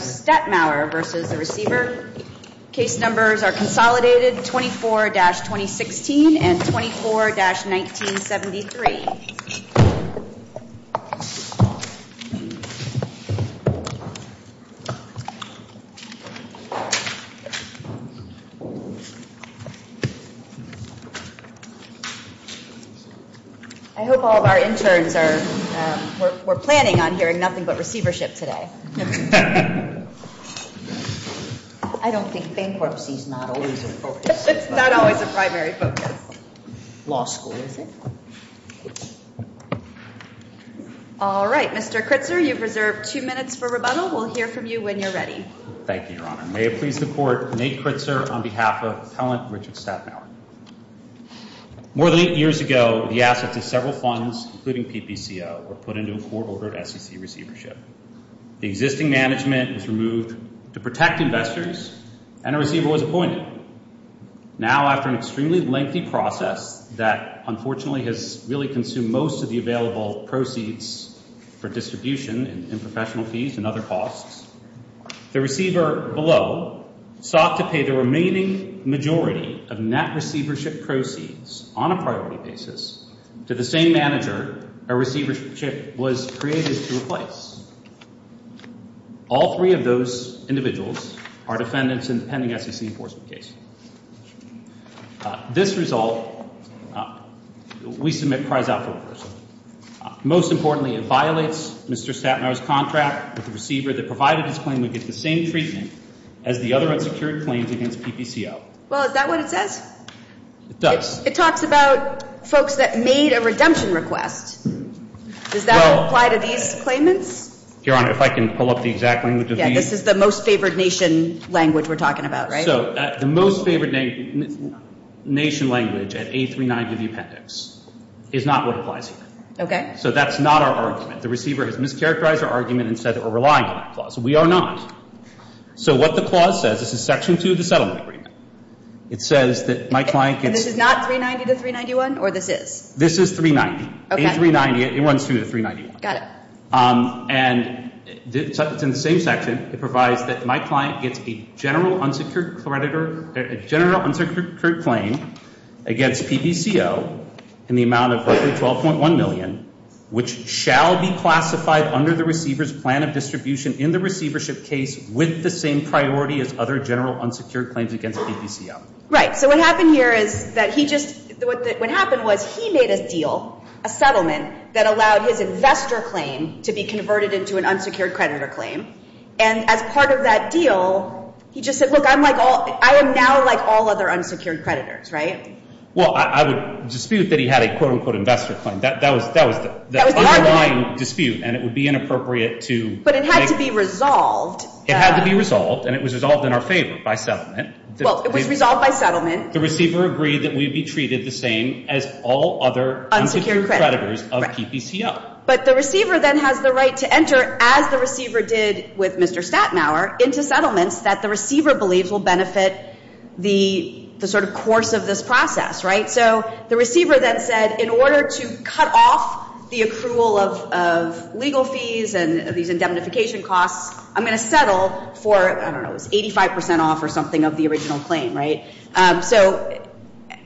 Staten hour versus the receiver case numbers are consolidated 24-2016 and 24-1973 I hope all of our interns are we're planning on hearing nothing but I don't think bankruptcy's not always a primary focus. It's not always a primary focus. Law school, is it? All right, Mr. Kritzer, you've reserved two minutes for rebuttal. We'll hear from you when you're ready. Thank you, Your Honor. May it please the Court, Nate Kritzer on behalf of Appellant Richard Staten hour. More than eight years ago, the assets of several funds, including PPCO, were put into a court-ordered SEC receivership. The existing management was removed to protect investors, and a receiver was appointed. Now, after an extremely lengthy process that, unfortunately, has really consumed most of the available proceeds for distribution and professional fees and other costs, the receiver below sought to pay the remaining majority of net receivership proceeds on a priority basis to the same manager a receivership was created to replace. All three of those individuals are defendants in the pending SEC enforcement case. This result, we submit cries out for a person. Most importantly, it violates Mr. Staten hour's contract with the receiver that provided his claim to get the same treatment as the other unsecured claims against PPCO. Well, is that what it says? It does. It talks about folks that made a redemption request. Does that apply to these claimants? Your Honor, if I can pull up the exact language of these. Yeah, this is the most favored nation language we're talking about, right? So the most favored nation language at A390 of the appendix is not what applies here. Okay. So that's not our argument. The receiver has mischaracterized our argument and said that we're relying on that clause. We are not. So what the clause says, this is section two of the settlement agreement. It says that my client gets. And this is not 390 to 391, or this is? This is 390. Okay. A390, it runs through the 391. Got it. And it's in the same section. It provides that my client gets a general unsecured claim against PPCO in the amount of roughly $12.1 million, which shall be classified under the receiver's plan of distribution in the receivership case with the same priority as other general unsecured claims against PPCO. Right. So what happened here is that he just, what happened was he made a deal, a settlement, that allowed his investor claim to be converted into an unsecured creditor claim. And as part of that deal, he just said, look, I am now like all other unsecured creditors, right? Well, I would dispute that he had a, quote, unquote, investor claim. That was the underlying dispute. And it would be inappropriate to make. But it had to be resolved. It had to be resolved. And it was resolved in our favor by settlement. Well, it was resolved by settlement. The receiver agreed that we would be treated the same as all other unsecured creditors of PPCO. But the receiver then has the right to enter, as the receiver did with Mr. Statenhower, into settlements that the receiver believes will benefit the sort of course of this process, right? So the receiver then said, in order to cut off the accrual of legal fees and these indemnification costs, I'm going to settle for, I don't know, 85 percent off or something of the original claim, right? So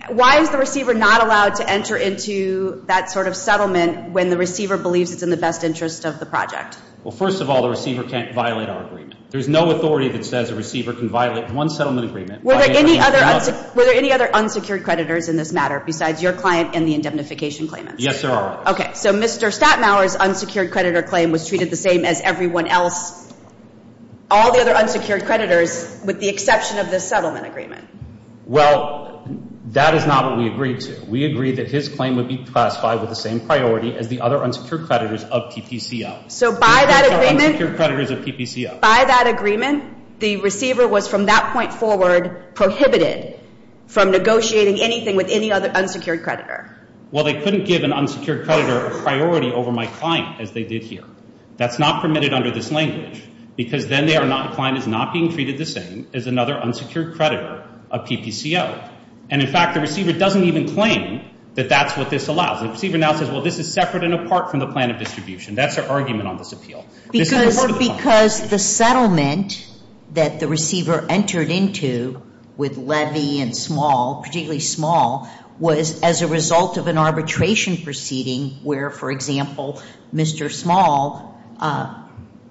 why is the receiver not allowed to enter into that sort of settlement when the receiver believes it's in the best interest of the project? Well, first of all, the receiver can't violate our agreement. There's no authority that says a receiver can violate one settlement agreement. Were there any other unsecured creditors in this matter besides your client and the indemnification claimants? Yes, there are. Okay, so Mr. Statenhower's unsecured creditor claim was treated the same as everyone else, all the other unsecured creditors, with the exception of this settlement agreement. Well, that is not what we agreed to. We agreed that his claim would be classified with the same priority as the other unsecured creditors of PPCO. So by that agreement? The other unsecured creditors of PPCO. By that agreement, the receiver was from that point forward prohibited from negotiating anything with any other unsecured creditor. Well, they couldn't give an unsecured creditor a priority over my client as they did here. That's not permitted under this language because then they are not, the client is not being treated the same as another unsecured creditor of PPCO. And in fact, the receiver doesn't even claim that that's what this allows. The receiver now says, well, this is separate and apart from the plan of distribution. That's their argument on this appeal. Because the settlement that the receiver entered into with Levy and Small, particularly Small, was as a result of an arbitration proceeding where, for example, Mr. Small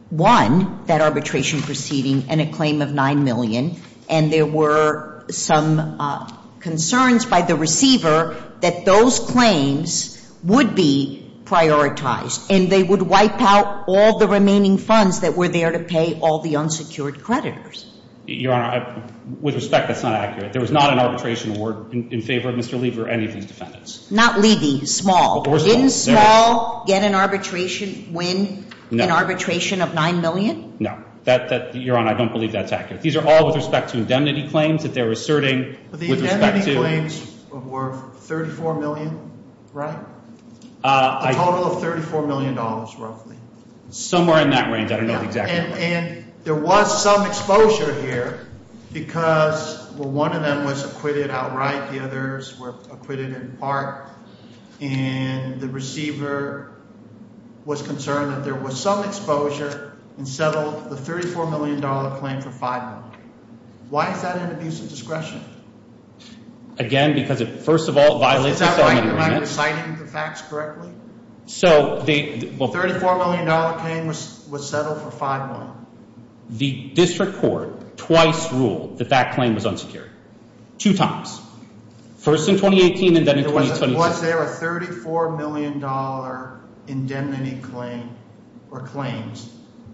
won that arbitration proceeding in a claim of $9 million, and there were some concerns by the receiver that those claims would be prioritized and they would wipe out all the remaining funds that were there to pay all the unsecured creditors. Your Honor, with respect, that's not accurate. There was not an arbitration award in favor of Mr. Levy or any of these defendants. Not Levy, Small. Didn't Small get an arbitration, win an arbitration of $9 million? No. Your Honor, I don't believe that's accurate. These are all with respect to indemnity claims that they're asserting with respect to. The indemnity claims were $34 million, right? A total of $34 million, roughly. Somewhere in that range. I don't know the exact number. And there was some exposure here because, well, one of them was acquitted outright, the others were acquitted in part, and the receiver was concerned that there was some exposure and settled the $34 million claim for $5 million. Why is that an abuse of discretion? Again, because, first of all, it violates the settlement agreement. Am I reciting the facts correctly? The $34 million claim was settled for $5 million. The district court twice ruled that that claim was unsecured. Two times. First in 2018 and then in 2016. Was there a $34 million indemnity claim or claims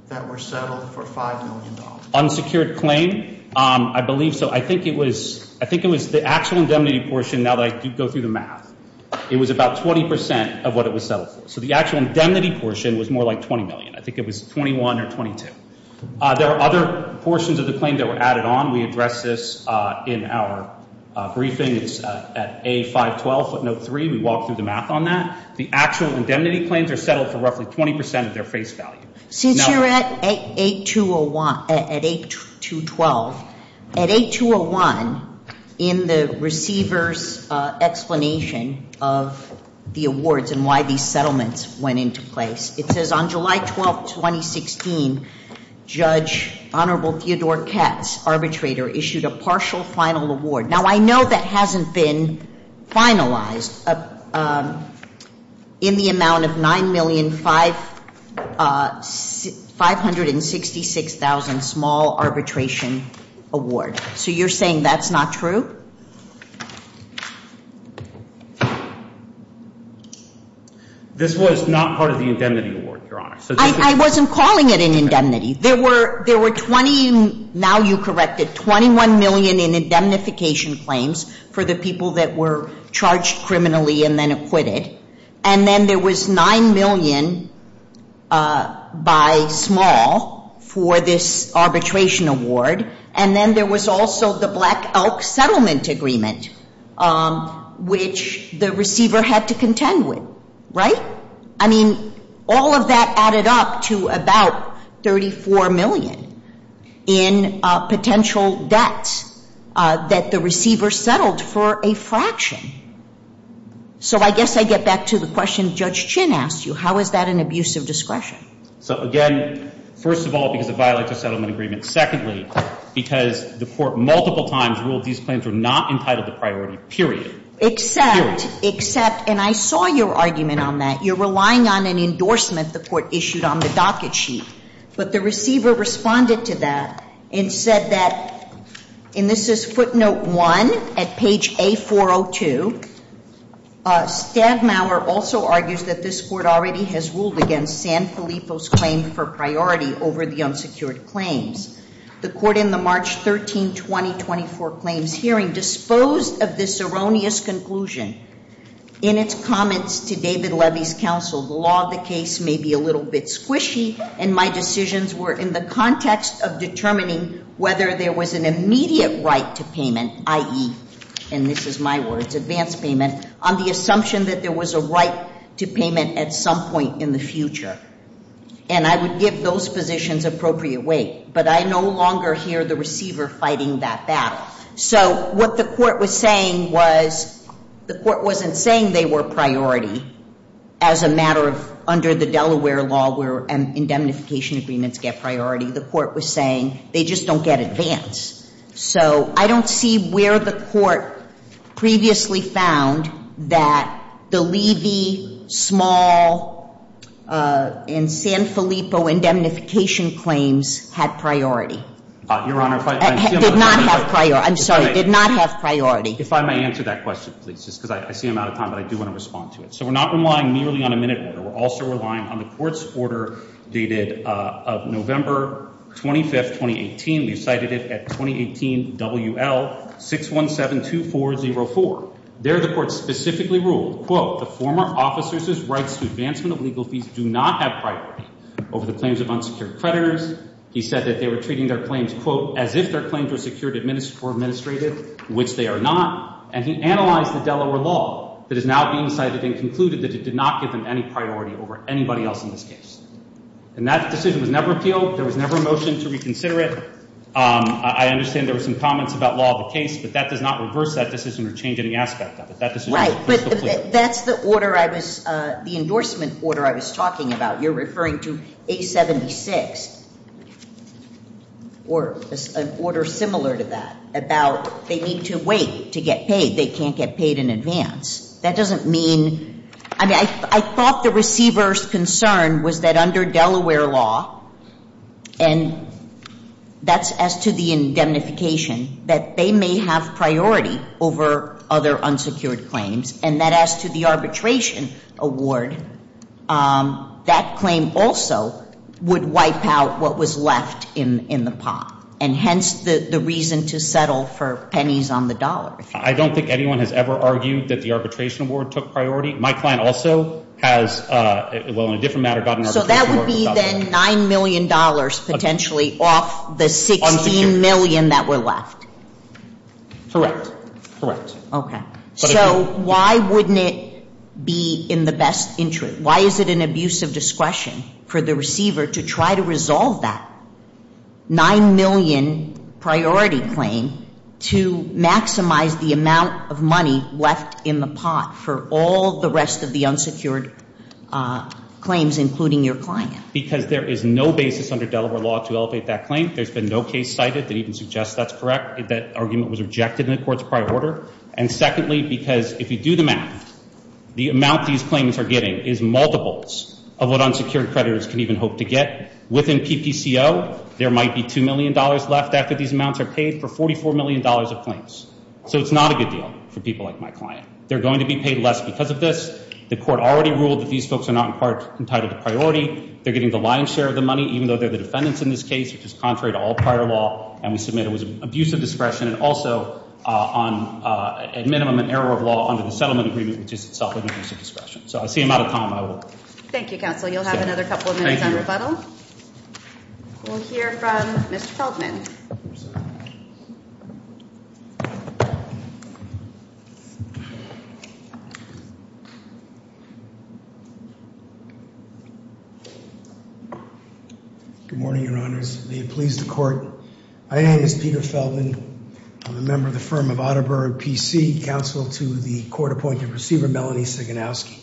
that were settled for $5 million? Unsecured claim? I believe so. I think it was the actual indemnity portion, now that I go through the math. It was about 20% of what it was settled for. So the actual indemnity portion was more like $20 million. I think it was $21 or $22. There are other portions of the claim that were added on. We addressed this in our briefing. It's at A512, footnote 3. We walked through the math on that. The actual indemnity claims are settled for roughly 20% of their face value. Since you're at A212, at A201, in the receiver's explanation of the awards and why these settlements went into place, it says on July 12, 2016, Judge Honorable Theodore Katz, arbitrator, issued a partial final award. Now, I know that hasn't been finalized in the amount of $9,566,000 small arbitration award. So you're saying that's not true? This was not part of the indemnity award, Your Honor. I wasn't calling it an indemnity. There were 20, now you corrected, $21 million in indemnification claims for the people that were charged criminally and then acquitted. And then there was $9 million by small for this arbitration award. And then there was also the Black Elk Settlement Agreement, which the receiver had to contend with. Right? I mean, all of that added up to about $34 million in potential debts that the receiver settled for a fraction. So I guess I get back to the question Judge Chin asked you. How is that an abuse of discretion? So, again, first of all, because it violates a settlement agreement. Secondly, because the Court multiple times ruled these claims were not entitled to priority, period. Except, except, and I saw your argument on that. You're relying on an endorsement the Court issued on the docket sheet. But the receiver responded to that and said that, and this is footnote one at page A402. Stagmauer also argues that this Court already has ruled against Sanfilippo's claim for priority over the unsecured claims. The Court in the March 13, 2024 claims hearing disposed of this erroneous conclusion. In its comments to David Levy's counsel, the law of the case may be a little bit squishy. And my decisions were in the context of determining whether there was an immediate right to payment, i.e., and this is my words, advanced payment. On the assumption that there was a right to payment at some point in the future. And I would give those positions appropriate weight. But I no longer hear the receiver fighting that battle. So what the Court was saying was the Court wasn't saying they were priority as a matter of under the Delaware law where indemnification agreements get priority. The Court was saying they just don't get advanced. So I don't see where the Court previously found that the Levy, Small, and Sanfilippo indemnification claims had priority. Your Honor. Did not have priority. I'm sorry. Did not have priority. If I may answer that question, please, just because I see I'm out of time, but I do want to respond to it. So we're not relying merely on a minute. We're also relying on the Court's order dated November 25, 2018. We've cited it at 2018 WL6172404. There the Court specifically ruled, quote, the former officers' rights to advancement of legal fees do not have priority over the claims of unsecured creditors. He said that they were treating their claims, quote, as if their claims were secured for administrative, which they are not. And he analyzed the Delaware law that is now being cited and concluded that it did not give them any priority over anybody else in this case. And that decision was never appealed. There was never a motion to reconsider it. I understand there were some comments about law of the case, but that does not reverse that decision or change any aspect of it. Right. But that's the order I was, the endorsement order I was talking about. You're referring to A76 or an order similar to that about they need to wait to get paid. They can't get paid in advance. That doesn't mean, I mean, I thought the receiver's concern was that under Delaware law, and that's as to the indemnification, that they may have priority over other unsecured claims. And that as to the arbitration award, that claim also would wipe out what was left in the pot. And hence the reason to settle for pennies on the dollar. I don't think anyone has ever argued that the arbitration award took priority. My client also has, well, in a different matter, got an arbitration award. So that would be then $9 million potentially off the $16 million that were left. Correct. Correct. Okay. So why wouldn't it be in the best interest? Why is it an abuse of discretion for the receiver to try to resolve that $9 million priority claim to maximize the amount of money left in the pot for all the rest of the unsecured claims, including your client? Because there is no basis under Delaware law to elevate that claim. There's been no case cited that even suggests that's correct. That argument was rejected in the court's prior order. And secondly, because if you do the math, the amount these claims are getting is multiples of what unsecured creditors can even hope to get. Within PPCO, there might be $2 million left after these amounts are paid for $44 million of claims. So it's not a good deal for people like my client. They're going to be paid less because of this. The court already ruled that these folks are not in part entitled to priority. They're getting the lion's share of the money, even though they're the defendants in this case, which is contrary to all prior law. And we submit it was an abuse of discretion and also on a minimum and error of law under the settlement agreement, which is itself an abuse of discretion. So I see I'm out of time. I will. Thank you, counsel. You'll have another couple of minutes on rebuttal. We'll hear from Mr. Feldman. Good morning, Your Honors. May it please the court. My name is Peter Feldman. I'm a member of the firm of Otterberg PC, counsel to the court-appointed receiver, Melanie Siganowski.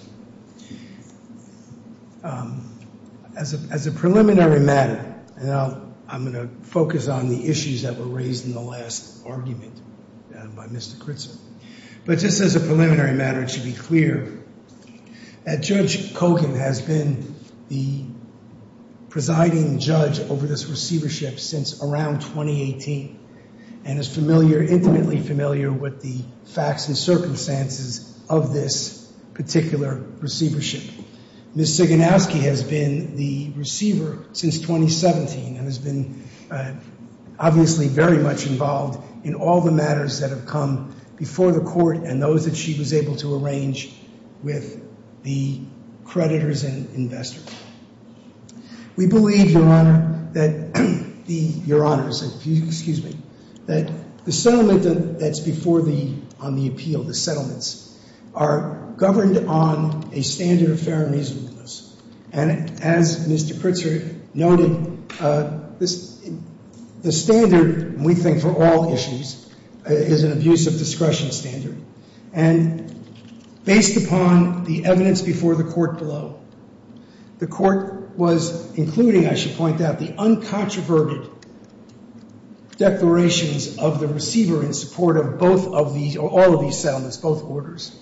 As a preliminary matter, I'm going to focus on the issues that were raised in the last argument by Mr. Kritzer. But just as a preliminary matter, it should be clear that Judge Kogan has been the presiding judge over this receivership since around 2018 and is familiar, intimately familiar, with the facts and circumstances of this particular receivership. Ms. Siganowski has been the receiver since 2017 and has been obviously very much involved in all the matters that have come before the court and those that she was able to arrange with the creditors and investors. We believe, Your Honor, that the, Your Honors, excuse me, that the settlement that's before the, on the appeal, the settlements, are governed on a standard of fair and reasonableness. And as Mr. Kritzer noted, the standard, we think, for all issues is an abuse of discretion standard. And based upon the evidence before the court below, the court was including, I should point out, the uncontroverted declarations of the receiver in support of both of these, or all of these settlements, both orders.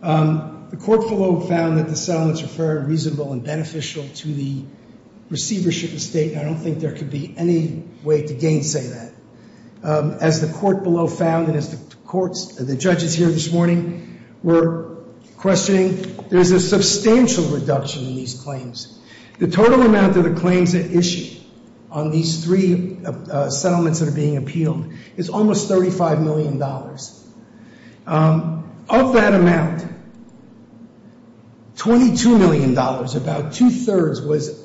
The court below found that the settlements are fair and reasonable and beneficial to the receivership estate, and I don't think there could be any way to gainsay that. As the court below found, and as the courts, the judges here this morning were questioning, there's a substantial reduction in these claims. The total amount of the claims at issue on these three settlements that are being appealed is almost $35 million. Of that amount, $22 million, about two-thirds, was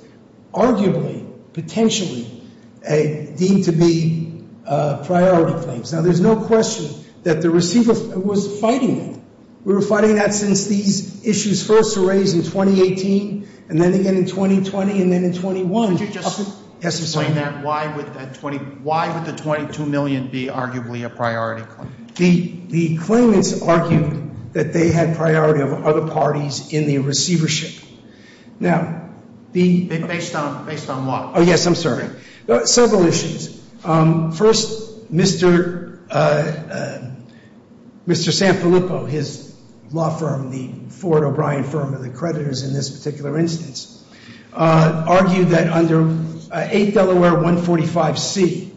arguably, potentially deemed to be priority claims. Now, there's no question that the receiver was fighting that. We were fighting that since these issues first were raised in 2018, and then again in 2020, and then in 21. Yes, I'm sorry. Why would the $22 million be arguably a priority claim? The claimants argued that they had priority over other parties in the receivership. Based on what? Yes, I'm sorry. Several issues. First, Mr. Sanfilippo, his law firm, the Ford O'Brien firm of the creditors in this particular instance, argued that under 8 Delaware 145C,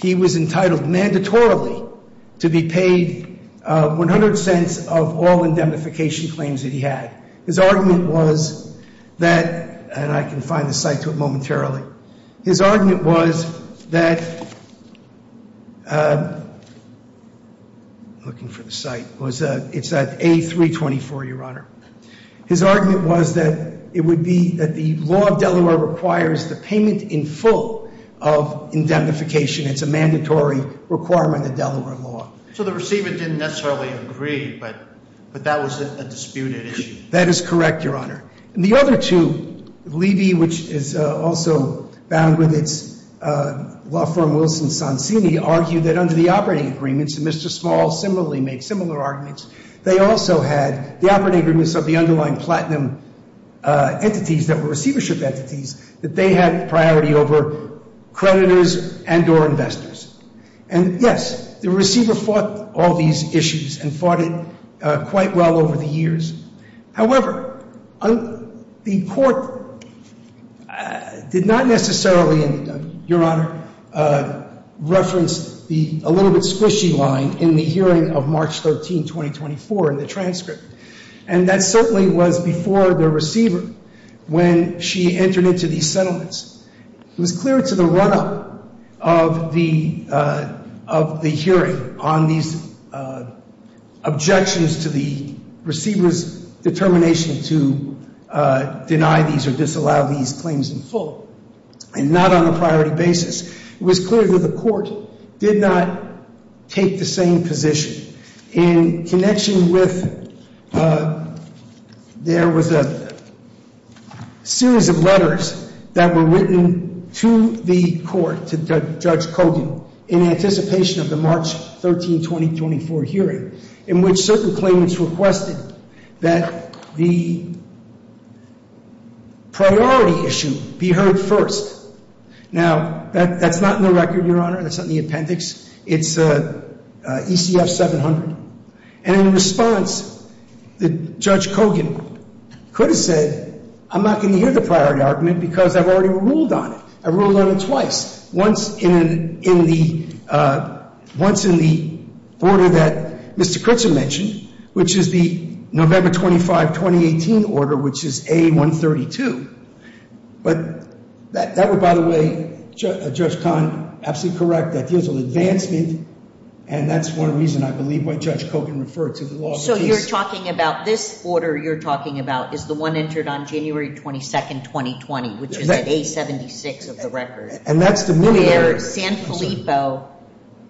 he was entitled mandatorily to be paid 100 cents of all indemnification claims that he had. His argument was that, and I can find the site to it momentarily. His argument was that, I'm looking for the site. It's at A324, Your Honor. His argument was that it would be that the law of Delaware requires the payment in full of indemnification. It's a mandatory requirement of Delaware law. So the receiver didn't necessarily agree, but that was a disputed issue. That is correct, Your Honor. And the other two, Levy, which is also bound with its law firm, Wilson Sansini, argued that under the operating agreements, and Mr. Small similarly made similar arguments, they also had the operating agreements of the underlying platinum entities that were receivership entities, that they had priority over creditors and or investors. And, yes, the receiver fought all these issues and fought it quite well over the years. However, the court did not necessarily, Your Honor, reference the a little bit squishy line in the hearing of March 13, 2024, in the transcript. And that certainly was before the receiver when she entered into these settlements. It was clear to the run-up of the hearing on these objections to the receiver's determination to deny these or disallow these claims in full and not on a priority basis. It was clear that the court did not take the same position. In connection with, there was a series of letters that were written to the court, to Judge Kogan, in anticipation of the March 13, 2024 hearing in which certain claimants requested that the priority issue be heard first. Now, that's not in the record, Your Honor. That's not in the appendix. It's ECF 700. And in response, Judge Kogan could have said, I'm not going to hear the priority argument because I've already ruled on it. I ruled on it twice, once in the order that Mr. Crutzen mentioned, which is the November 25, 2018 order, which is A132. But that would, by the way, Judge Kahn, absolutely correct. That deals with advancement, and that's one reason I believe why Judge Kogan referred to the loss of peace. So you're talking about this order you're talking about is the one entered on January 22, 2020, which is at A76 of the record. And that's the minimum. Where Sanfilippo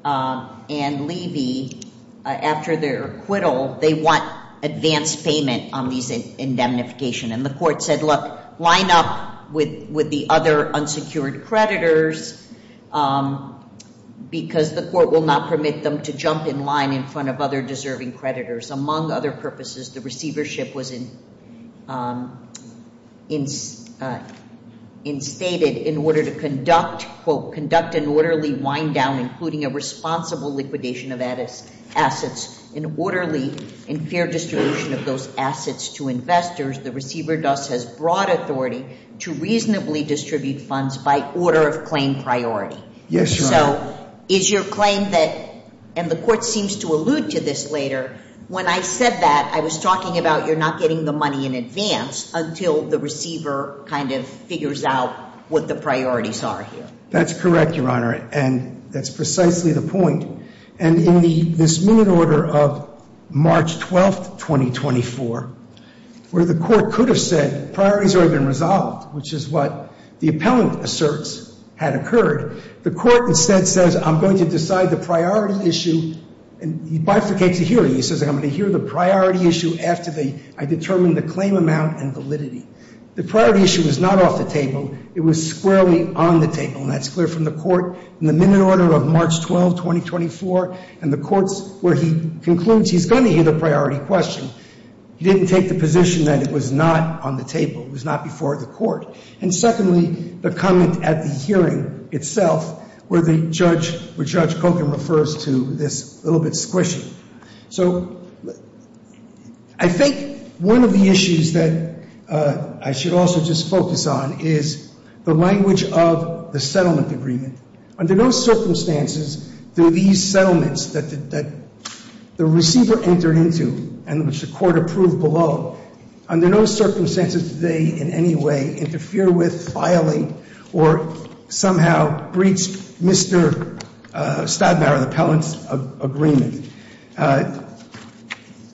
and Levy, after their acquittal, they want advance payment on these indemnifications. And the court said, look, line up with the other unsecured creditors because the court will not permit them to jump in line in front of other deserving creditors. Among other purposes, the receivership was instated in order to conduct, quote, conduct an orderly wind-down, including a responsible liquidation of assets, an orderly and fair distribution of those assets to investors. The receiver thus has broad authority to reasonably distribute funds by order of claim priority. Yes, Your Honor. So is your claim that, and the court seems to allude to this later, when I said that, I was talking about you're not getting the money in advance until the receiver kind of figures out what the priorities are here. That's correct, Your Honor, and that's precisely the point. And in this minute order of March 12th, 2024, where the court could have said, priorities have already been resolved, which is what the appellant asserts had occurred, the court instead says, I'm going to decide the priority issue, and he bifurcates it here. He says, I'm going to hear the priority issue after I determine the claim amount and validity. The priority issue was not off the table. It was squarely on the table, and that's clear from the court. In the minute order of March 12th, 2024, and the courts where he concludes he's going to hear the priority question, he didn't take the position that it was not on the table. It was not before the court. And secondly, the comment at the hearing itself where the judge, where Judge Kogan refers to this little bit squishy. So I think one of the issues that I should also just focus on is the language of the settlement agreement. Under no circumstances do these settlements that the receiver entered into, and which the court approved below, under no circumstances do they in any way interfere with, violate, or somehow breach Mr. Stadnauer, the appellant's agreement.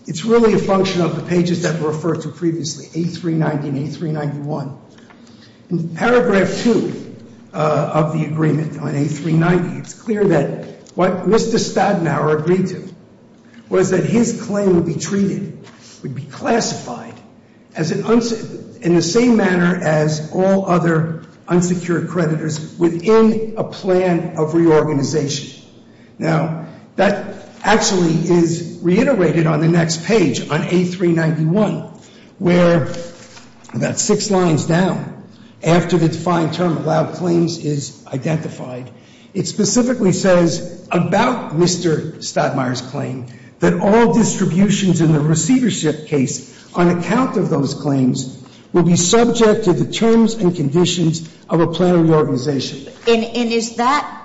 It's really a function of the pages that were referred to previously, A390 and A391. In paragraph 2 of the agreement on A390, it's clear that what Mr. Stadnauer agreed to was that his claim would be treated, would be classified in the same manner as all other unsecured creditors within a plan of reorganization. Now, that actually is reiterated on the next page, on A391, where about six lines down, after the defined term allowed claims is identified, it specifically says about Mr. Stadnauer's claim that all distributions in the receivership case, on account of those claims, will be subject to the terms and conditions of a plan of reorganization. And is that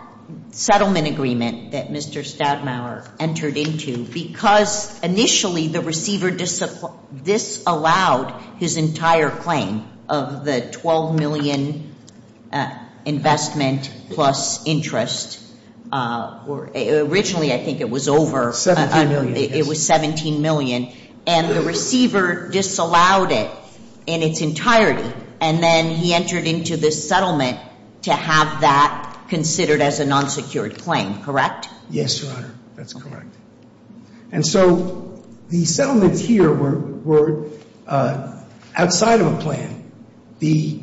settlement agreement that Mr. Stadnauer entered into, because initially the receiver disallowed his entire claim of the $12 million investment plus interest? Originally, I think it was over. $17 million, yes. It was $17 million, and the receiver disallowed it in its entirety, and then he entered into this settlement to have that considered as a non-secured claim, correct? Yes, Your Honor. That's correct. And so the settlements here were outside of a plan. The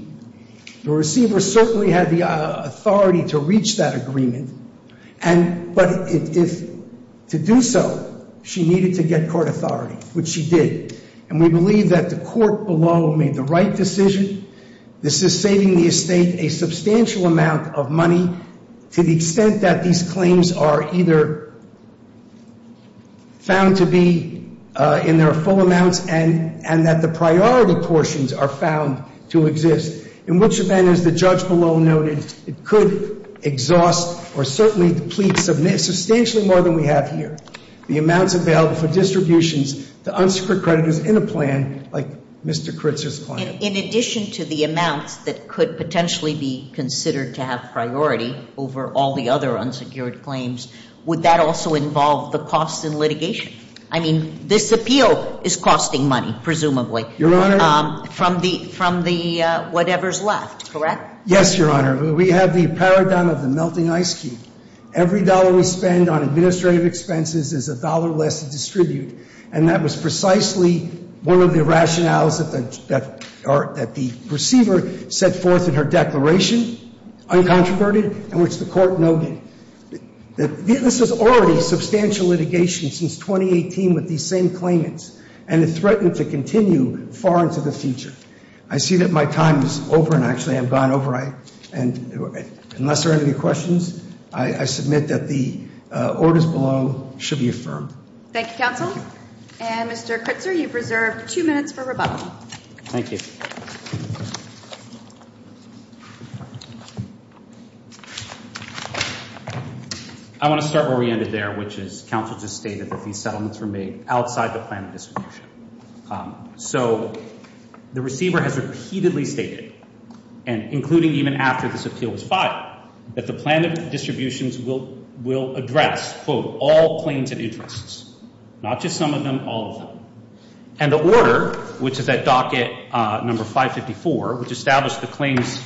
receiver certainly had the authority to reach that agreement, but to do so, she needed to get court authority, which she did. And we believe that the court below made the right decision. This is saving the estate a substantial amount of money to the extent that these claims are either found to be in their full amounts and that the priority portions are found to exist, in which event, as the judge below noted, it could exhaust or certainly deplete substantially more than we have here, the amounts available for distributions to unsecured creditors in a plan like Mr. Kritzer's claim. In addition to the amounts that could potentially be considered to have priority over all the other unsecured claims, would that also involve the costs in litigation? I mean, this appeal is costing money, presumably, from the whatever's left, correct? Yes, Your Honor. We have the paradigm of the melting ice cube. Every dollar we spend on administrative expenses is a dollar less to distribute, and that was precisely one of the rationales that the receiver set forth in her declaration, uncontroverted, in which the court noted that this is already substantial litigation since 2018 with these same claimants, and it threatened to continue far into the future. I see that my time is over, and actually I've gone over, and unless there are any questions, I submit that the orders below should be affirmed. Thank you, counsel. And Mr. Kritzer, you've reserved two minutes for rebuttal. Thank you. I want to start where we ended there, which is counsel just stated that these settlements were made outside the plan of distribution. So the receiver has repeatedly stated, and including even after this appeal was filed, that the plan of distributions will address, quote, all claims and interests, not just some of them, all of them. And the order, which is at docket number 554, which established the claims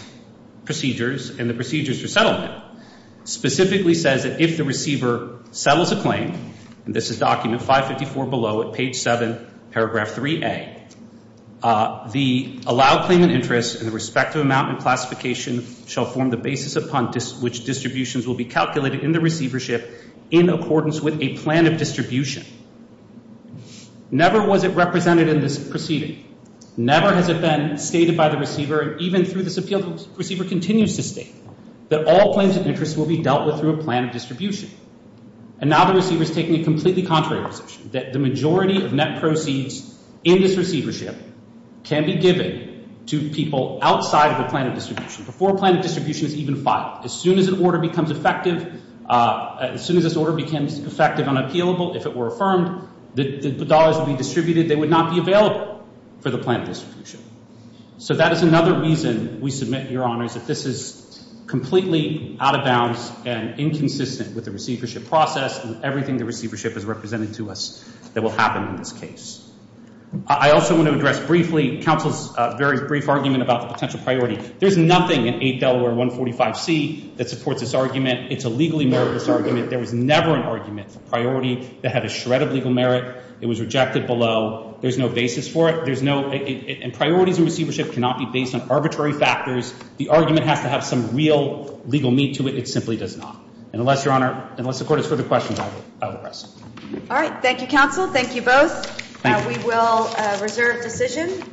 procedures and the procedures for settlement, specifically says that if the receiver settles a claim, and this is document 554 below at page 7, paragraph 3A, the allowed claimant interest and the respective amount in classification shall form the basis upon which distributions will be calculated in the receivership in accordance with a plan of distribution. Never was it represented in this proceeding. Never has it been stated by the receiver, and even through this appeal, the receiver continues to state that all claims of interest will be dealt with through a plan of distribution. And now the receiver is taking a completely contrary position, that the majority of net proceeds in this receivership can be given to people outside of the plan of distribution, before a plan of distribution is even filed. As soon as an order becomes effective, as soon as this order becomes effective and appealable, if it were affirmed, the dollars would be distributed. They would not be available for the plan of distribution. So that is another reason we submit, Your Honors, that this is completely out of bounds and inconsistent with the receivership process and everything the receivership has represented to us that will happen in this case. I also want to address briefly counsel's very brief argument about the potential priority. There's nothing in 8 Delaware 145C that supports this argument. It's a legally meritless argument. There was never an argument for priority that had a shred of legal merit. It was rejected below. There's no basis for it. Priorities in receivership cannot be based on arbitrary factors. The argument has to have some real legal meat to it. It simply does not. Unless, Your Honor, unless the court has further questions, I will rest. All right. Thank you, counsel. Thank you both. We will reserve decision.